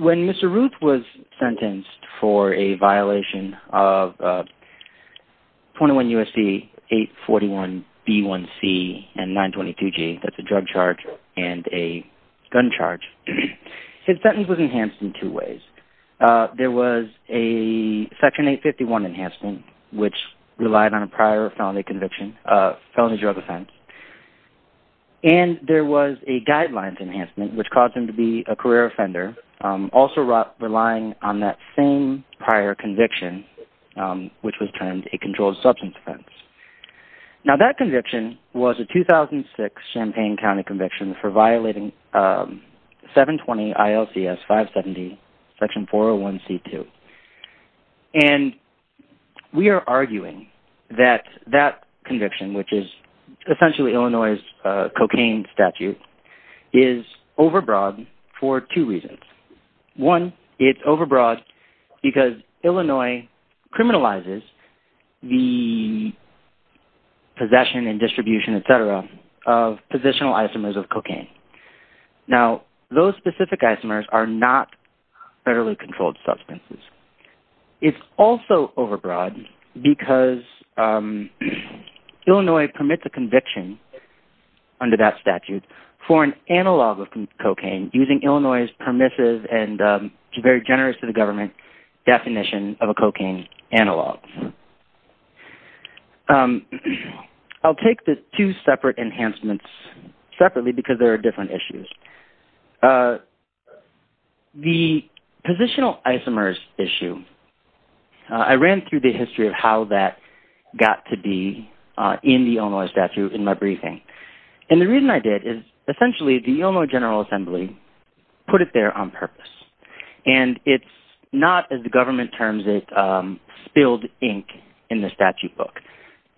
When Mr. Ruth was sentenced for a violation of 21 U.S.C. 841b1c and 922g, that's a drive-in violation, and a gun charge. His sentence was enhanced in two ways. There was a Section 851 enhancement, which relied on a prior felony drug offense, and there was a guidelines enhancement, which caused him to be a career offender, also relying on that same prior conviction, which was termed a conviction for violating 720 ILCS 570, Section 401c2. And we are arguing that that conviction, which is essentially Illinois' cocaine statute, is overbroad for two reasons. One, it's overbroad because Illinois criminalizes the possession and distribution, etc., of positional isomers of cocaine. Now, those specific isomers are not federally controlled substances. It's also overbroad because Illinois permits a conviction under that statute for an analog of cocaine using Illinois' permissive and very generous to the government definition of a cocaine analog. I'll take the two separate enhancements separately because there are different issues. The positional isomers issue, I ran through the history of how that got to be in the Illinois statute in my briefing. And the reason I did is essentially the Illinois General Assembly put it there on purpose. And it's not, as the government terms it, spilled ink in the statute book.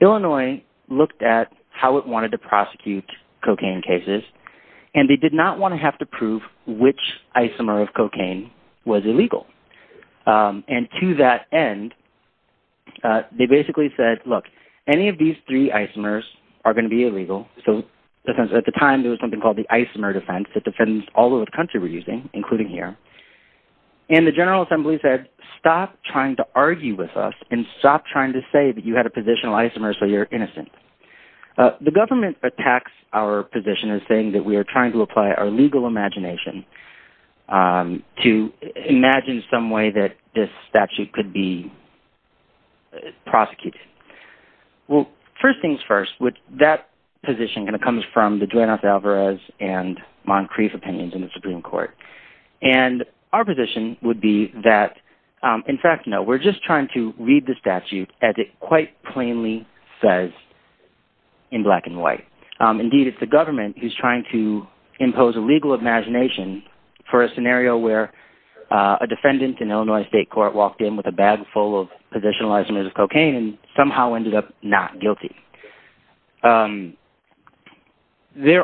Illinois looked at how it wanted to prosecute cocaine cases, and they did not want to have to prove which isomer of cocaine was illegal. And to that end, they basically said, look, any of these three isomers are going to be illegal. At the time, there was something called the isomer defense that defends all over the country we're using, including here. And the General Assembly said, stop trying to argue with us and stop trying to say that you had a positional isomer so you're innocent. The government attacks our position as saying that we are trying to apply our legal imagination to imagine some way that this statute could be prosecuted. Well, first things first, that position comes from the Duane Osalvarez and Moncrief opinions in the Supreme Court. And our position would be that, in fact, no, we're just trying to read the statute as it quite plainly says in black and white. Indeed, it's the government who's trying to impose a legal imagination for a scenario where a defendant in Illinois state court walked in with a bag full of positional isomers of cocaine and somehow ended up not guilty. There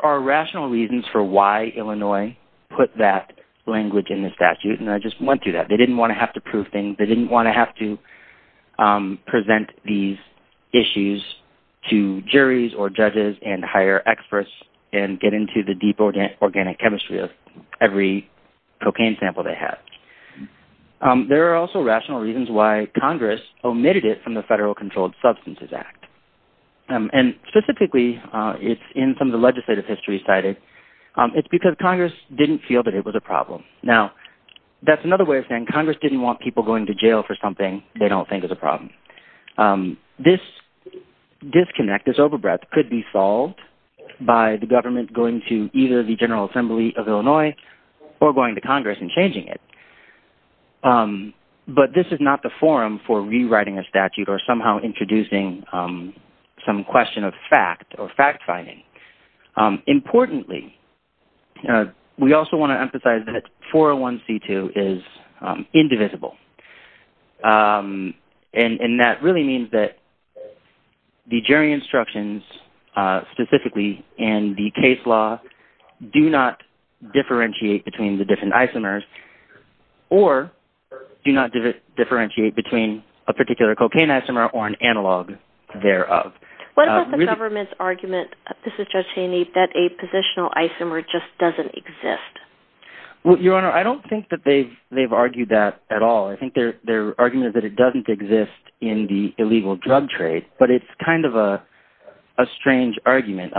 are rational reasons for why Illinois put that language in the statute, and I just went through that. They didn't want to have to prove things. They didn't want to have to present these issues to juries or judges and hire experts and get into the deep organic chemistry of every cocaine sample they have. There are also rational reasons why Congress omitted it from the Federal Controlled Substances Act. And specifically, in some of the legislative history cited, it's because Congress didn't feel that it was a problem. Now, that's another way of saying Congress didn't want people going to jail for something they don't think is a problem. This disconnect, this overbreath, could be solved by the government going to either the General Assembly of Illinois or going to Congress and changing it. But this is not the forum for rewriting a statute or somehow introducing some question of fact or fact-finding. Importantly, we also want to emphasize that 401C2 is indivisible, and that really means that the jury instructions specifically in the case law do not differentiate between the different isomers or do not differentiate between a particular cocaine isomer or an analog thereof. What about the government's argument, Justice Cheney, that a positional isomer just doesn't exist? Well, Your Honor, I don't think that they've argued that at all. I think their argument is that it doesn't exist in the illegal drug trade, but it's kind of a strange argument.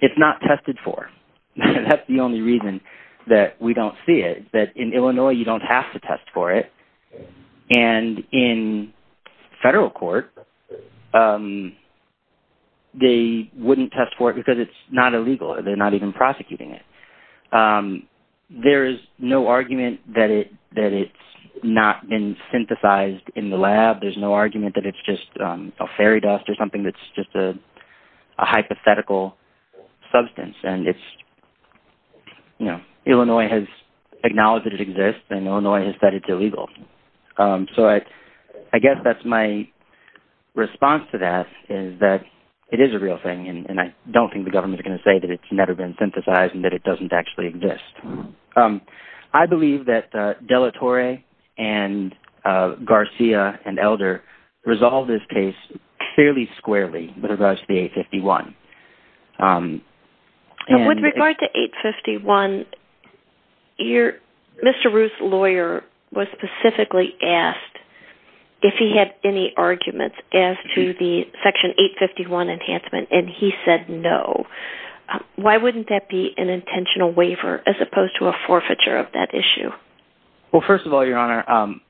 It's not tested for. That's the only reason that we don't see it, that in Illinois you don't have to test for it, and in federal court they wouldn't test for it because it's not illegal. They're not even prosecuting it. There's no argument that it's not been synthesized in the lab. There's no argument that it's just a fairy dust or something that's just a hypothetical substance. Illinois has acknowledged that it exists, and Illinois has said it's illegal. So I guess that's my response to that is that it is a real thing, and I don't think the government is going to say that it's never been synthesized and that it doesn't actually exist. I believe that De La Torre and Garcia and Elder resolved this case fairly squarely with regards to the 851. With regard to 851, Mr. Ruth's lawyer was specifically asked if he had any arguments as to the section 851 enhancement, and he said no. Why wouldn't that be an intentional waiver as opposed to a forfeiture of that issue? Well, first of all, Your Honor,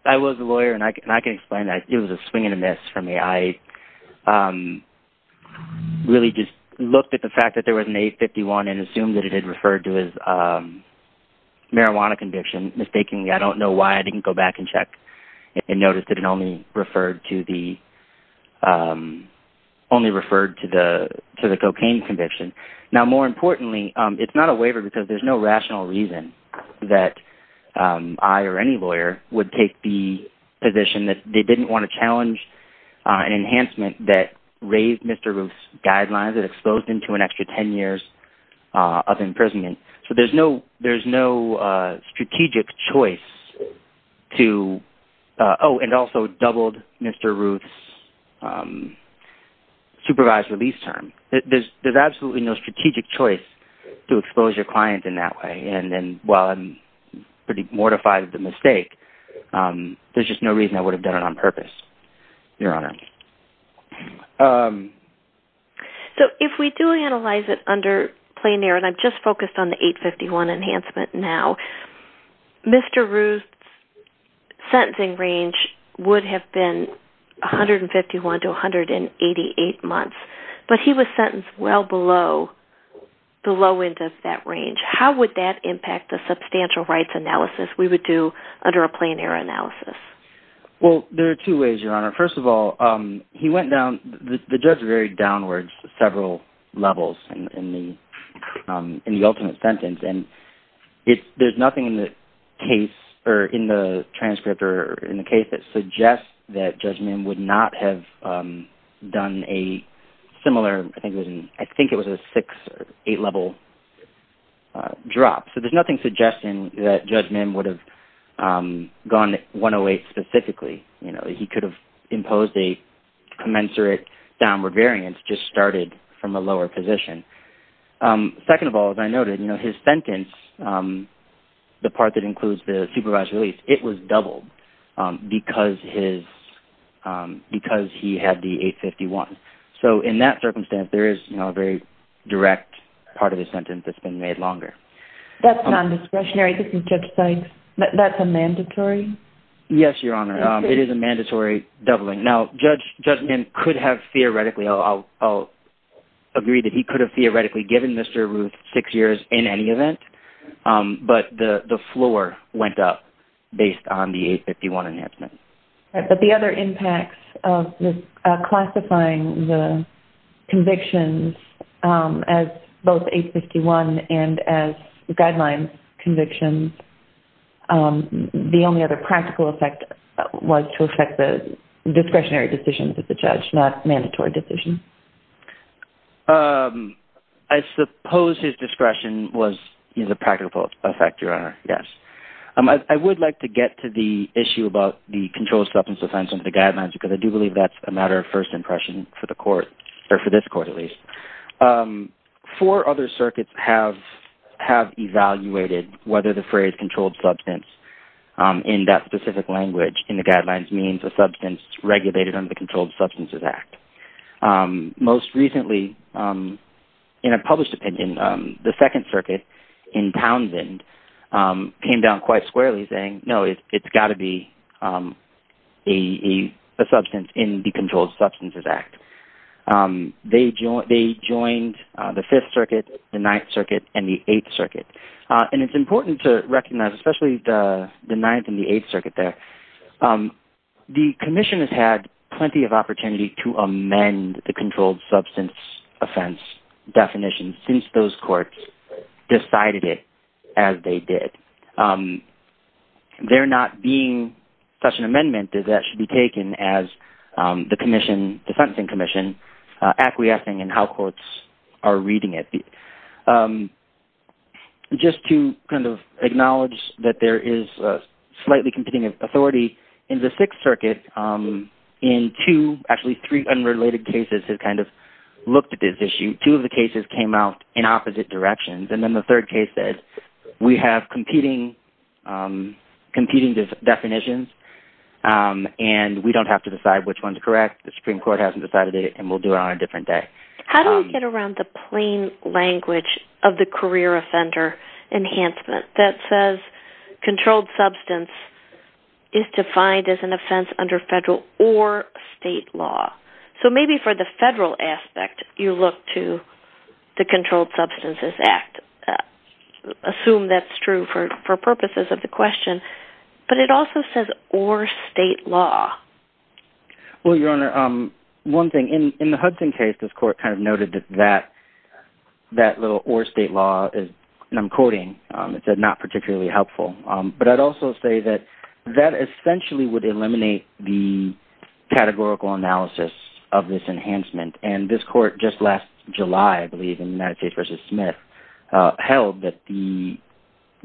I was a lawyer, and I can explain that. It was a swing and a miss for me. I really just looked at the fact that there was an 851 and assumed that it had referred to as marijuana conviction. Mistakenly, I don't know why I didn't go back and check and notice that it only referred to the cocaine conviction. Now, more importantly, it's not a waiver because there's no rational reason that I or any lawyer would take the position that they didn't want to challenge an enhancement that raised Mr. Ruth's guidelines and exposed him to an extra 10 years of imprisonment. So there's no strategic choice to – oh, and also doubled Mr. Ruth's supervised release term. There's absolutely no strategic choice to expose your client in that way, and while I'm pretty mortified at the mistake, there's just no reason I would have done it on purpose, Your Honor. So if we do analyze it under plein air, and I've just focused on the 851 enhancement now, Mr. Ruth's sentencing range would have been 151 to 188 months, but he was sentenced well below the low end of that range. How would that impact the substantial rights analysis we would do under a plein air analysis? Well, there are two ways, Your Honor. First of all, he went down – the judge varied downwards several levels in the ultimate sentence, and there's nothing in the case or in the transcript or in the case that suggests that Judge Mim would not have done a similar – I think it was a six or eight-level drop. So there's nothing suggesting that Judge Mim would have gone 108 specifically. He could have imposed a commensurate downward variance, just started from a lower position. Second of all, as I noted, his sentence, the part that includes the supervised release, it was doubled because he had the 851. So in that circumstance, there is a very direct part of his sentence that's been made longer. That's non-discretionary, isn't it, Judge Sykes? That's a mandatory? Yes, Your Honor. It is a mandatory doubling. Now, Judge Mim could have theoretically – I'll agree that he could have theoretically given Mr. Ruth six years in any event, but the floor went up based on the 851 enhancement. But the other impacts of classifying the convictions as both 851 and as guidelines convictions, the only other practical effect was to affect the discretionary decisions of the judge, not mandatory decisions? I suppose his discretion was a practical effect, Your Honor, yes. I would like to get to the issue about the controlled substance offense under the guidelines because I do believe that's a matter of first impression for the court, or for this court at least. Four other circuits have evaluated whether the phrase controlled substance in that specific language in the guidelines means a substance regulated under the Controlled Substances Act. Most recently, in a published opinion, the Second Circuit in Townsend came down quite squarely saying, no, it's got to be a substance in the Controlled Substances Act. They joined the Fifth Circuit, the Ninth Circuit, and the Eighth Circuit. And it's important to recognize, especially the Ninth and the Eighth Circuit there, the Commission has had plenty of opportunity to amend the controlled substance offense definition since those courts decided it as they did. There not being such an amendment, that that should be taken as the Commission, the Sentencing Commission, acquiescing in how courts are reading it. Just to acknowledge that there is slightly competing authority in the Sixth Circuit, in two, actually three, unrelated cases have looked at this issue. Two of the cases came out in opposite directions, and then the third case said, we have competing definitions, and we don't have to decide which one's correct, the Supreme Court hasn't decided it, and we'll do it on a different day. How do we get around the plain language of the career offender enhancement that says controlled substance is defined as an offense under federal or state law? So maybe for the federal aspect, you look to the Controlled Substances Act, assume that's true for purposes of the question, but it also says or state law. Well, Your Honor, one thing, in the Hudson case, this court kind of noted that that little or state law is, and I'm quoting, it said not particularly helpful. But I'd also say that that essentially would eliminate the categorical analysis of this enhancement, and this court just last July, I believe, in United States v. Smith, held that the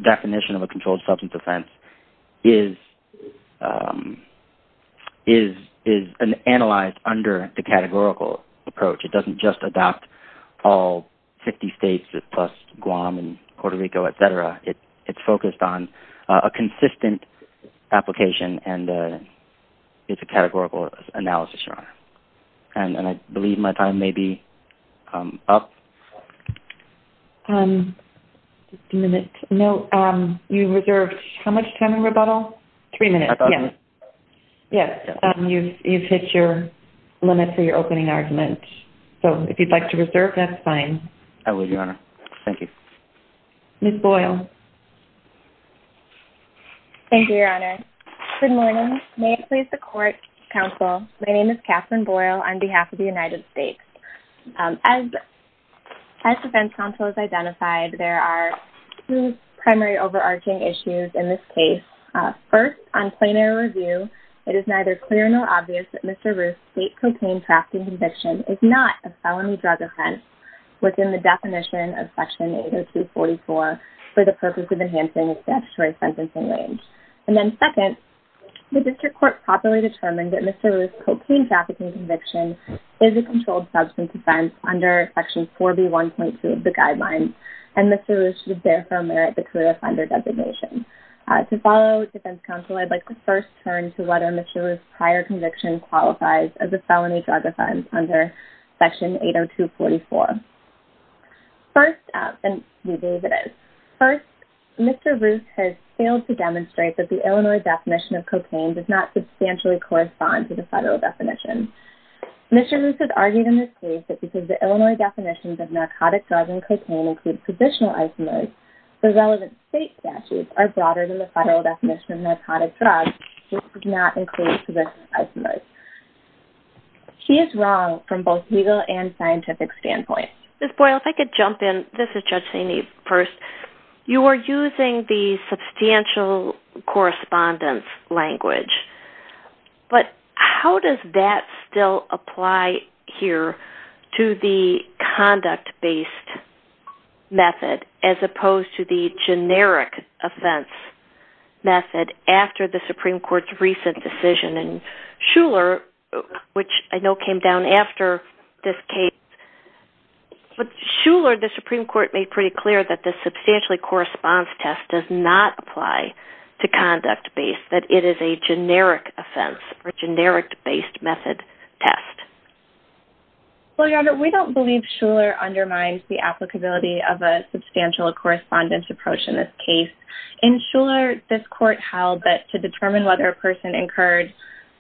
definition of a controlled substance offense is analyzed under the categorical approach. It doesn't just adopt all 50 states plus Guam and Puerto Rico, et cetera. It's focused on a consistent application, and it's a categorical analysis, Your Honor. And I believe my time may be up. Just a minute. No, you reserved how much time in rebuttal? Three minutes. I thought so. Yes, you've hit your limit for your opening argument. So if you'd like to reserve, that's fine. I will, Your Honor. Thank you. Ms. Boyle. Thank you, Your Honor. Good morning. May it please the court, counsel, my name is Katherine Boyle on behalf of the United States. As the defense counsel has identified, there are two primary overarching issues in this case. First, on plain error review, it is neither clear nor obvious that Mr. Ruth's state cocaine trafficking conviction is not a felony drug offense within the definition of Section 80244 for the purpose of enhancing the statutory sentencing range. And then second, the district court properly determined that Mr. Ruth's cocaine trafficking conviction is a controlled substance offense under Section 4B1.2 of the guidelines, and Mr. Ruth should therefore merit the clear offender designation. To follow defense counsel, I'd like to first turn to whether Mr. Ruth's prior conviction qualifies as a felony drug offense under Section 80244. First, Mr. Ruth has failed to demonstrate that the Illinois definition of cocaine does not substantially correspond to the federal definition. Mr. Ruth has argued in this case that because the Illinois definitions of narcotic drugs and cocaine include positional isomers, the relevant state statutes are broader than the federal definition of narcotic drugs, which does not include positional isomers. He is wrong from both legal and scientific standpoints. Ms. Boyle, if I could jump in. This is Judge Saney first. You are using the substantial correspondence language, but how does that still apply here to the conduct-based method as opposed to the generic offense method after the Supreme Court's recent decision? And Shuler, which I know came down after this case, but Shuler, the Supreme Court made pretty clear that the substantially correspondence test does not apply to conduct-based, that it is a generic offense or generic-based method test. Well, Your Honor, we don't believe Shuler undermines the applicability of a substantial correspondence approach in this case. In Shuler, this court held that to determine whether a person incurred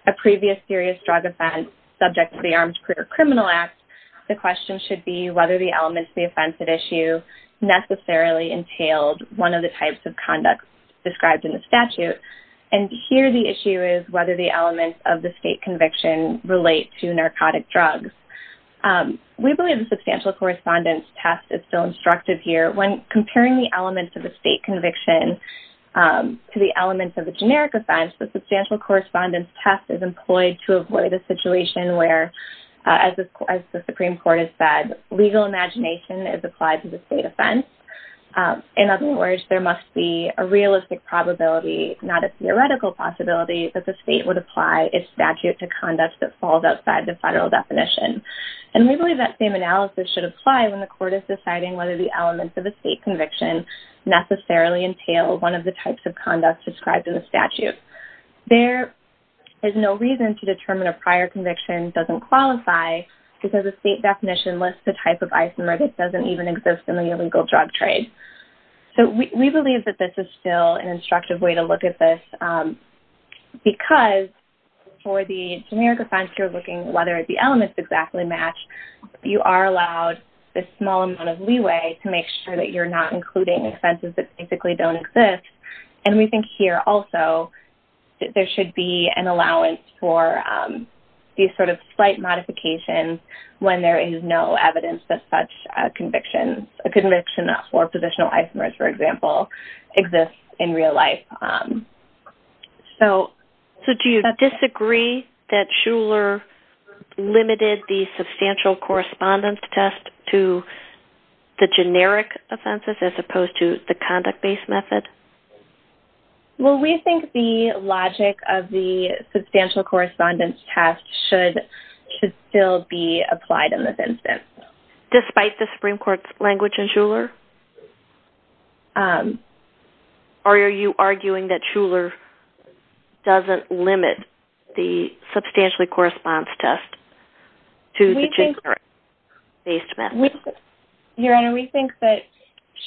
a previous serious drug offense subject to the Armed Career Criminal Act, the question should be whether the elements of the offense at issue necessarily entailed one of the types of conduct described in the statute. And here the issue is whether the elements of the state conviction relate to narcotic drugs. We believe the substantial correspondence test is still instructive here. When comparing the elements of a state conviction to the elements of a generic offense, the substantial correspondence test is employed to avoid a situation where, as the Supreme Court has said, legal imagination is applied to the state offense. In other words, there must be a realistic probability, not a theoretical possibility, that the state would apply its statute to conduct that falls outside the federal definition. And we believe that same analysis should apply when the court is deciding whether the elements of a state conviction necessarily entail one of the types of conduct described in the statute. There is no reason to determine a prior conviction doesn't qualify because the state definition lists the type of isomer that doesn't even exist in the illegal drug trade. So we believe that this is still an instructive way to look at this because for the generic offense you're looking at, whether the elements exactly match, you are allowed a small amount of leeway to make sure that you're not including offenses that basically don't exist. And we think here also that there should be an allowance for these sort of slight modifications when there is no evidence that such convictions, a conviction for positional isomers, for example, exists in real life. So do you disagree that Shuler limited the substantial correspondence test to the generic offenses as opposed to the conduct-based method? Well, we think the logic of the substantial correspondence test should still be applied in this instance. Despite the Supreme Court's language in Shuler? Or are you arguing that Shuler doesn't limit the substantial correspondence test to the generic-based method? Your Honor, we think that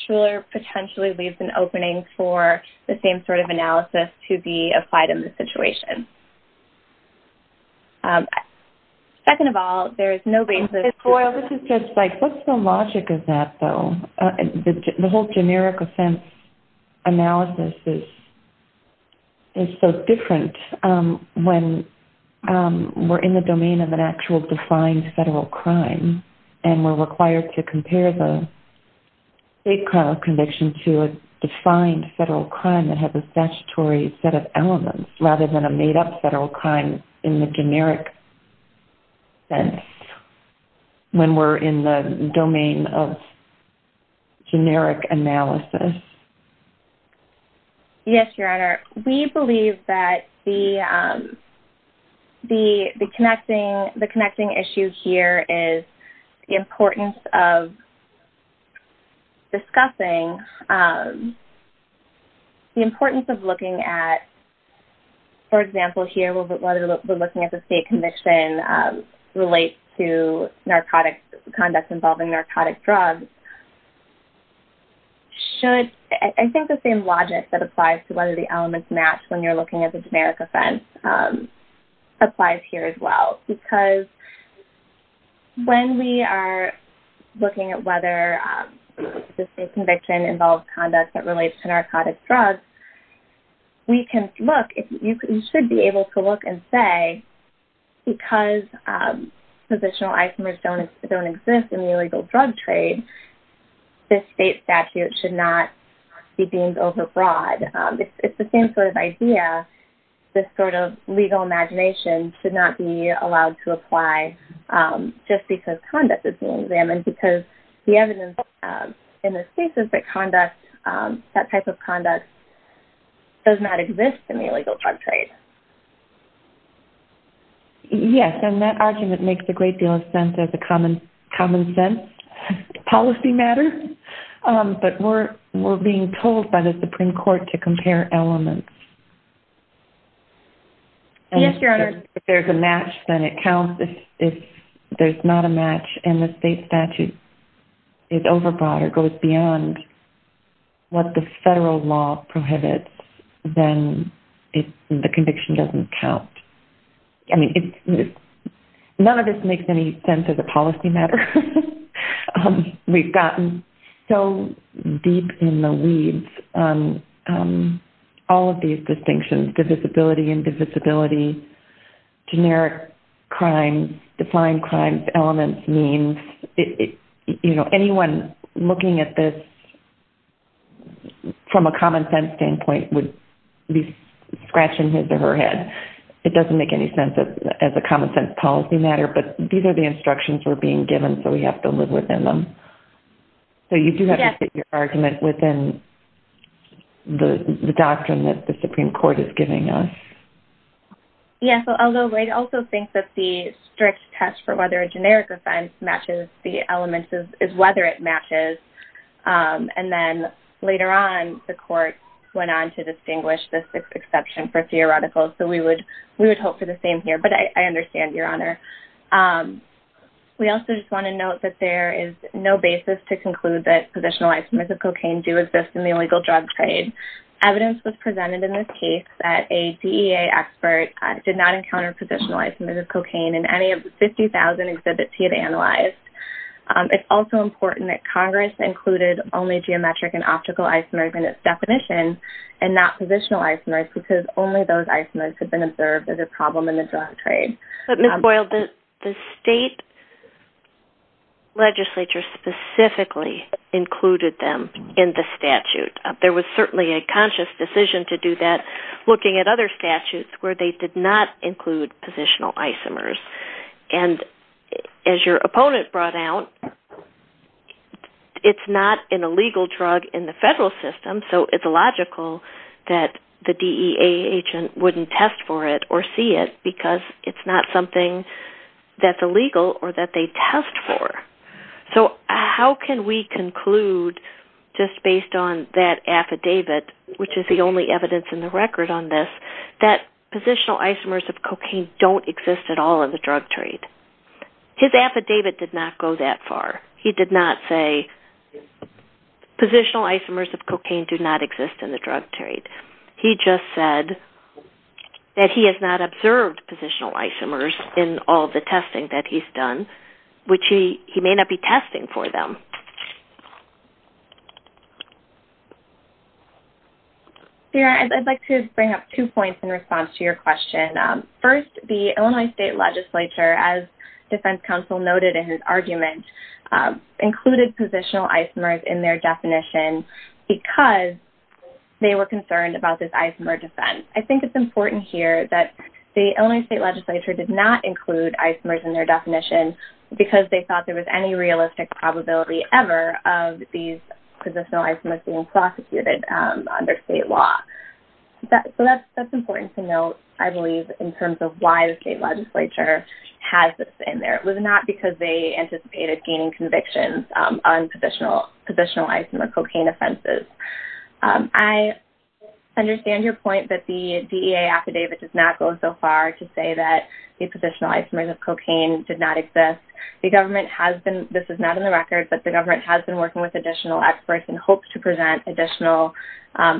Shuler potentially leaves an opening for the same sort of analysis to be applied in this situation. Second of all, there is no basis for... This is just like, what's the logic of that, though? The whole generic offense analysis is so different when we're in the domain of an actual defined federal crime and we're required to compare the state conviction to a defined federal crime that has a statutory set of elements, rather than a made-up federal crime in the generic sense when we're in the domain of generic analysis. Yes, Your Honor. We believe that the connecting issue here is the importance of discussing... For example, here, we're looking at the state conviction relate to conduct involving narcotic drugs. I think the same logic that applies to whether the elements match when you're looking at the generic offense applies here as well. Because when we are looking at whether the state conviction involves conduct that relates to narcotic drugs, we can look... You should be able to look and say, because positional items don't exist in the illegal drug trade, this state statute should not be deemed overbroad. It's the same sort of idea, this sort of legal imagination should not be allowed to apply just because conduct is being examined. Because the evidence in this case is that conduct, that type of conduct, does not exist in the illegal drug trade. Yes, and that argument makes a great deal of sense as a common sense policy matter. But we're being told by the Supreme Court to compare elements. Yes, Your Honor. If there's a match, then it counts. If there's not a match and the state statute is overbroad or goes beyond what the federal law prohibits, then the conviction doesn't count. I mean, none of this makes any sense as a policy matter. We've gotten so deep in the weeds on all of these distinctions, divisibility, indivisibility, generic crimes, defined crimes, elements, means. Anyone looking at this from a common sense standpoint would be scratching his or her head. It doesn't make any sense as a common sense policy matter, but these are the instructions we're being given, so we have to live within them. So you do have to fit your argument within the doctrine that the Supreme Court is giving us. Yes, although I also think that the strict test for whether a generic offense matches the elements is whether it matches. And then later on, the court went on to distinguish this exception for theoretical, so we would hope for the same here. But I understand, Your Honor. We also just want to note that there is no basis to conclude that positionalized smiths of cocaine do exist in the illegal drug trade. Evidence was presented in this case that a DEA expert did not encounter positionalized smiths of cocaine in any of the 50,000 exhibits he had analyzed. It's also important that Congress included only geometric and optical isomers in its definition and not positionalized smiths, because only those isomers had been observed as a problem in the drug trade. But Ms. Boyle, the state legislature specifically included them in the statute. There was certainly a conscious decision to do that, looking at other statutes where they did not include positional isomers. And as your opponent brought out, it's not an illegal drug in the federal system, so it's logical that the DEA agent wouldn't test for it or see it because it's not something that's illegal or that they test for. So how can we conclude, just based on that affidavit, which is the only evidence in the record on this, that positional isomers of cocaine don't exist at all in the drug trade? His affidavit did not go that far. He did not say positional isomers of cocaine do not exist in the drug trade. He just said that he has not observed positional isomers in all the testing that he's done, which he may not be testing for them. Sarah, I'd like to bring up two points in response to your question. First, the Illinois state legislature, as defense counsel noted in his argument, included positional isomers in their definition because they were concerned about this isomer defense. I think it's important here that the Illinois state legislature did not include isomers in their definition because they thought there was any realistic probability ever of these positional isomers being prosecuted under state law. So that's important to note, I believe, in terms of why the state legislature has this in there. It was not because they anticipated gaining convictions on positional isomer cocaine offenses. I understand your point that the DEA affidavit does not go so far to say that the positional isomers of cocaine did not exist. The government has been, this is not in the record, but the government has been working with additional experts and hopes to present additional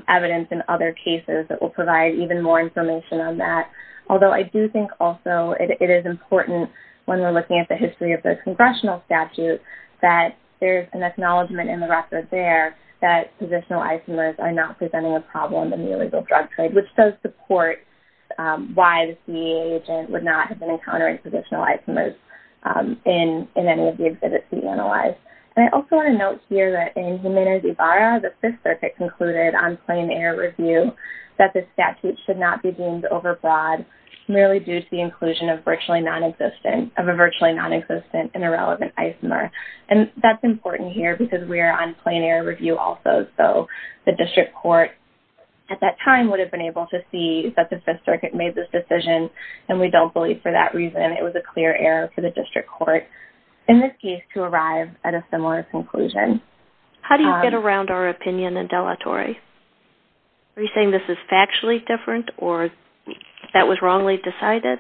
evidence in other cases that will provide even more information on that. Although I do think also it is important when we're looking at the history of the congressional statute that there's an acknowledgment in the record there that positional isomers are not presenting a problem in the illegal drug trade, which does support why the DEA agent would not have been encountering positional isomers in any of the affidavits we analyzed. And I also want to note here that in Jimenez-Ibarra, the Fifth Circuit concluded on plain air review that the statute should not be deemed overbroad merely due to the inclusion of virtually nonexistent, and irrelevant isomer. And that's important here because we are on plain air review also. So the district court at that time would have been able to see that the Fifth Circuit made this decision, and we don't believe for that reason it was a clear error for the district court in this case to arrive at a similar conclusion. How do you get around our opinion in delatore? Are you saying this is factually different or that was wrongly decided?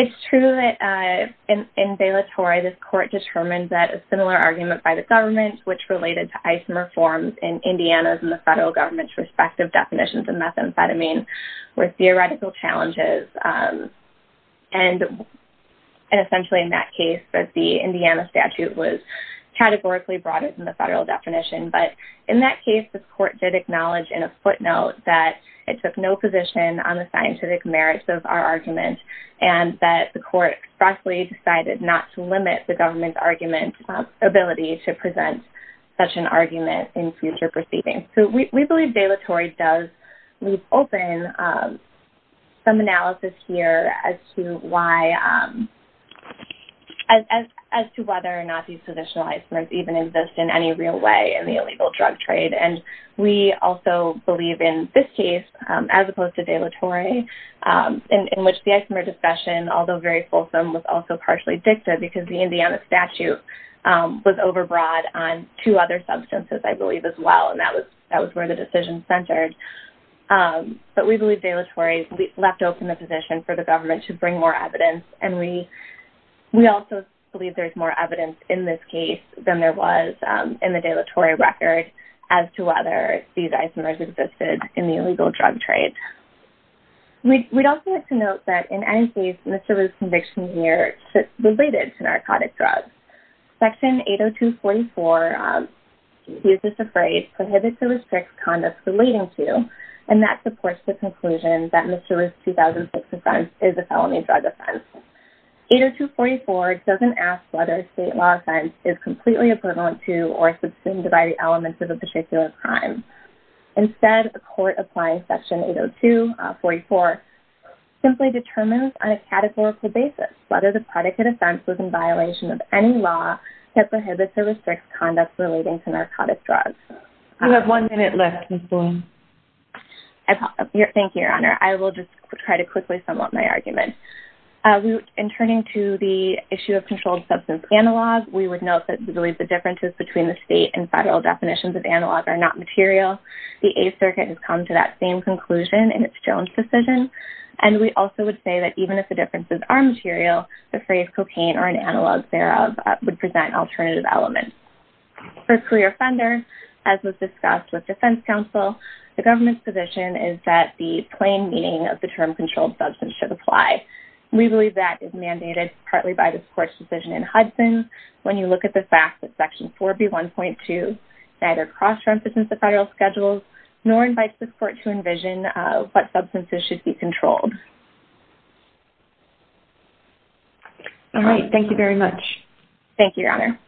It's true that in delatore, this court determined that a similar argument by the government, which related to isomer forms in Indiana's and the federal government's respective definitions of methamphetamine, were theoretical challenges. And essentially in that case, the Indiana statute was categorically broader than the federal definition. But in that case, the court did acknowledge in a footnote that it took no position on the scientific merits of our argument, and that the court expressly decided not to limit the government's ability to present such an argument in future proceedings. So we believe delatore does leave open some analysis here as to whether or not these traditional isomers even exist in any real way. And we also believe in this case, as opposed to delatore, in which the isomer discussion, although very fulsome, was also partially dictated because the Indiana statute was overbroad on two other substances, I believe, as well. And that was where the decision centered. But we believe delatore left open the position for the government to bring more evidence. And we also believe there's more evidence in this case than there was in the delatore record as to whether these isomers existed in the illegal drug trade. We'd also like to note that in any case, Mr. Roo's conviction here is related to narcotic drugs. Section 802.44, he's just afraid, prohibits or restricts conduct relating to, and that supports the conclusion that Mr. Roo's 2006 offense is a felony drug offense. 802.44 doesn't ask whether a state law offense is completely equivalent to or subsumed by the elements of a particular crime. Instead, the court applying Section 802.44 simply determines on a categorical basis whether the predicate offense was in violation of any law that prohibits or restricts conduct relating to narcotic drugs. You have one minute left, Ms. Bloom. Thank you, Your Honor. I will just try to quickly sum up my argument. In turning to the issue of controlled substance analog, we would note that we believe the differences between the state and federal definitions of analog are not material. The Eighth Circuit has come to that same conclusion in its Jones decision. And we also would say that even if the differences are material, the phrase cocaine or an analog thereof would present alternative elements. For career offender, as was discussed with defense counsel, the government's position is that the plain meaning of the term controlled substance should apply. We believe that is mandated partly by this court's decision in Hudson. When you look at the fact that Section 4B.1.2 neither cross-references the federal schedule nor invites the court to envision what substances should be controlled. All right. Thank you very much. Thank you, Your Honor.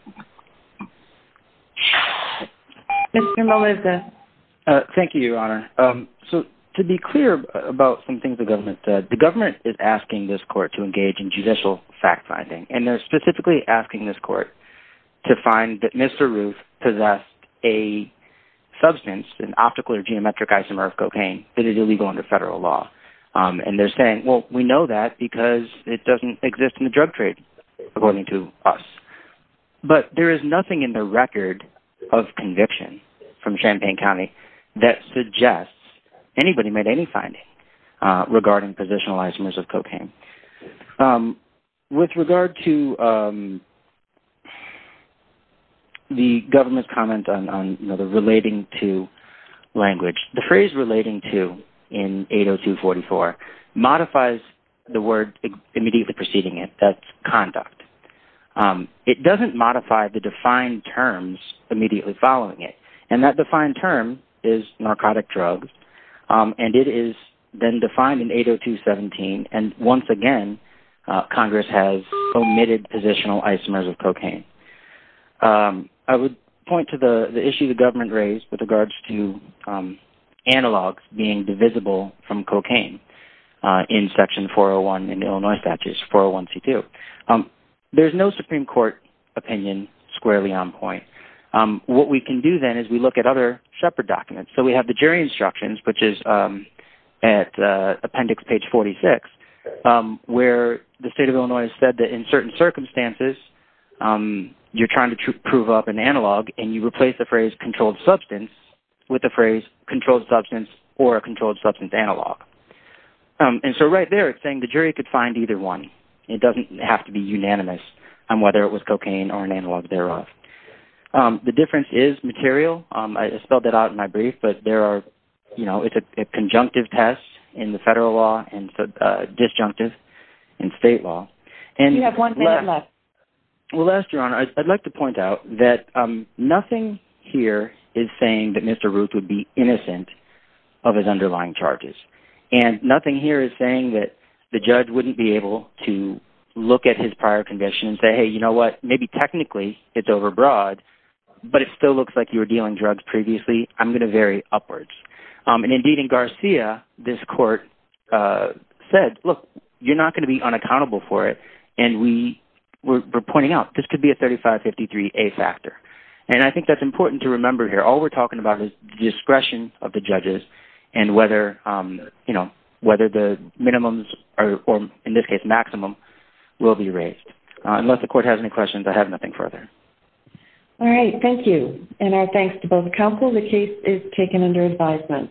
Thank you, Your Honor. So to be clear about some things the government said, the government is asking this court to engage in judicial fact-finding. And they're specifically asking this court to find that Mr. Ruth possessed a substance, an optical or geometric isomer of cocaine that is illegal under federal law. And they're saying, well, we know that because it doesn't exist in the drug trade according to us. But there is nothing in the record of conviction from Champaign County that suggests anybody made any finding regarding positional isomers of cocaine. With regard to the government's comment on the relating to language, the phrase relating to in 802.44 modifies the word immediately preceding it. That's conduct. It doesn't modify the defined terms immediately following it. And that defined term is narcotic drugs. And it is then defined in 802.17. And once again, Congress has omitted positional isomers of cocaine. I would point to the issue the government raised with regards to analogs being divisible from cocaine in Section 401 in Illinois Statutes, 401C2. There's no Supreme Court opinion squarely on point. What we can do then is we look at other shepherd documents. So we have the jury instructions, which is at appendix page 46, where the state of Illinois has said that in certain circumstances, you're trying to prove up an analog and you replace the phrase controlled substance with the phrase controlled substance or a controlled substance analog. And so right there, it's saying the jury could find either one. It doesn't have to be unanimous on whether it was cocaine or an analog thereof. The difference is material. I spelled that out in my brief. But there are – it's a conjunctive test in the federal law and disjunctive in state law. You have one minute left. Well, last, Your Honor, I'd like to point out that nothing here is saying that Mr. Ruth would be innocent of his underlying charges. And nothing here is saying that the judge wouldn't be able to look at his prior conviction and say, hey, you know what, maybe technically it's overbroad, but it still looks like you were dealing drugs previously. I'm going to vary upwards. And indeed, in Garcia, this court said, look, you're not going to be unaccountable for it. And we're pointing out this could be a 3553A factor. And I think that's important to remember here. All we're talking about is discretion of the judges and whether the minimums or, in this case, maximum will be raised. Unless the court has any questions, I have nothing further. All right. Thank you. And our thanks to both counsel. The case is taken under advisement.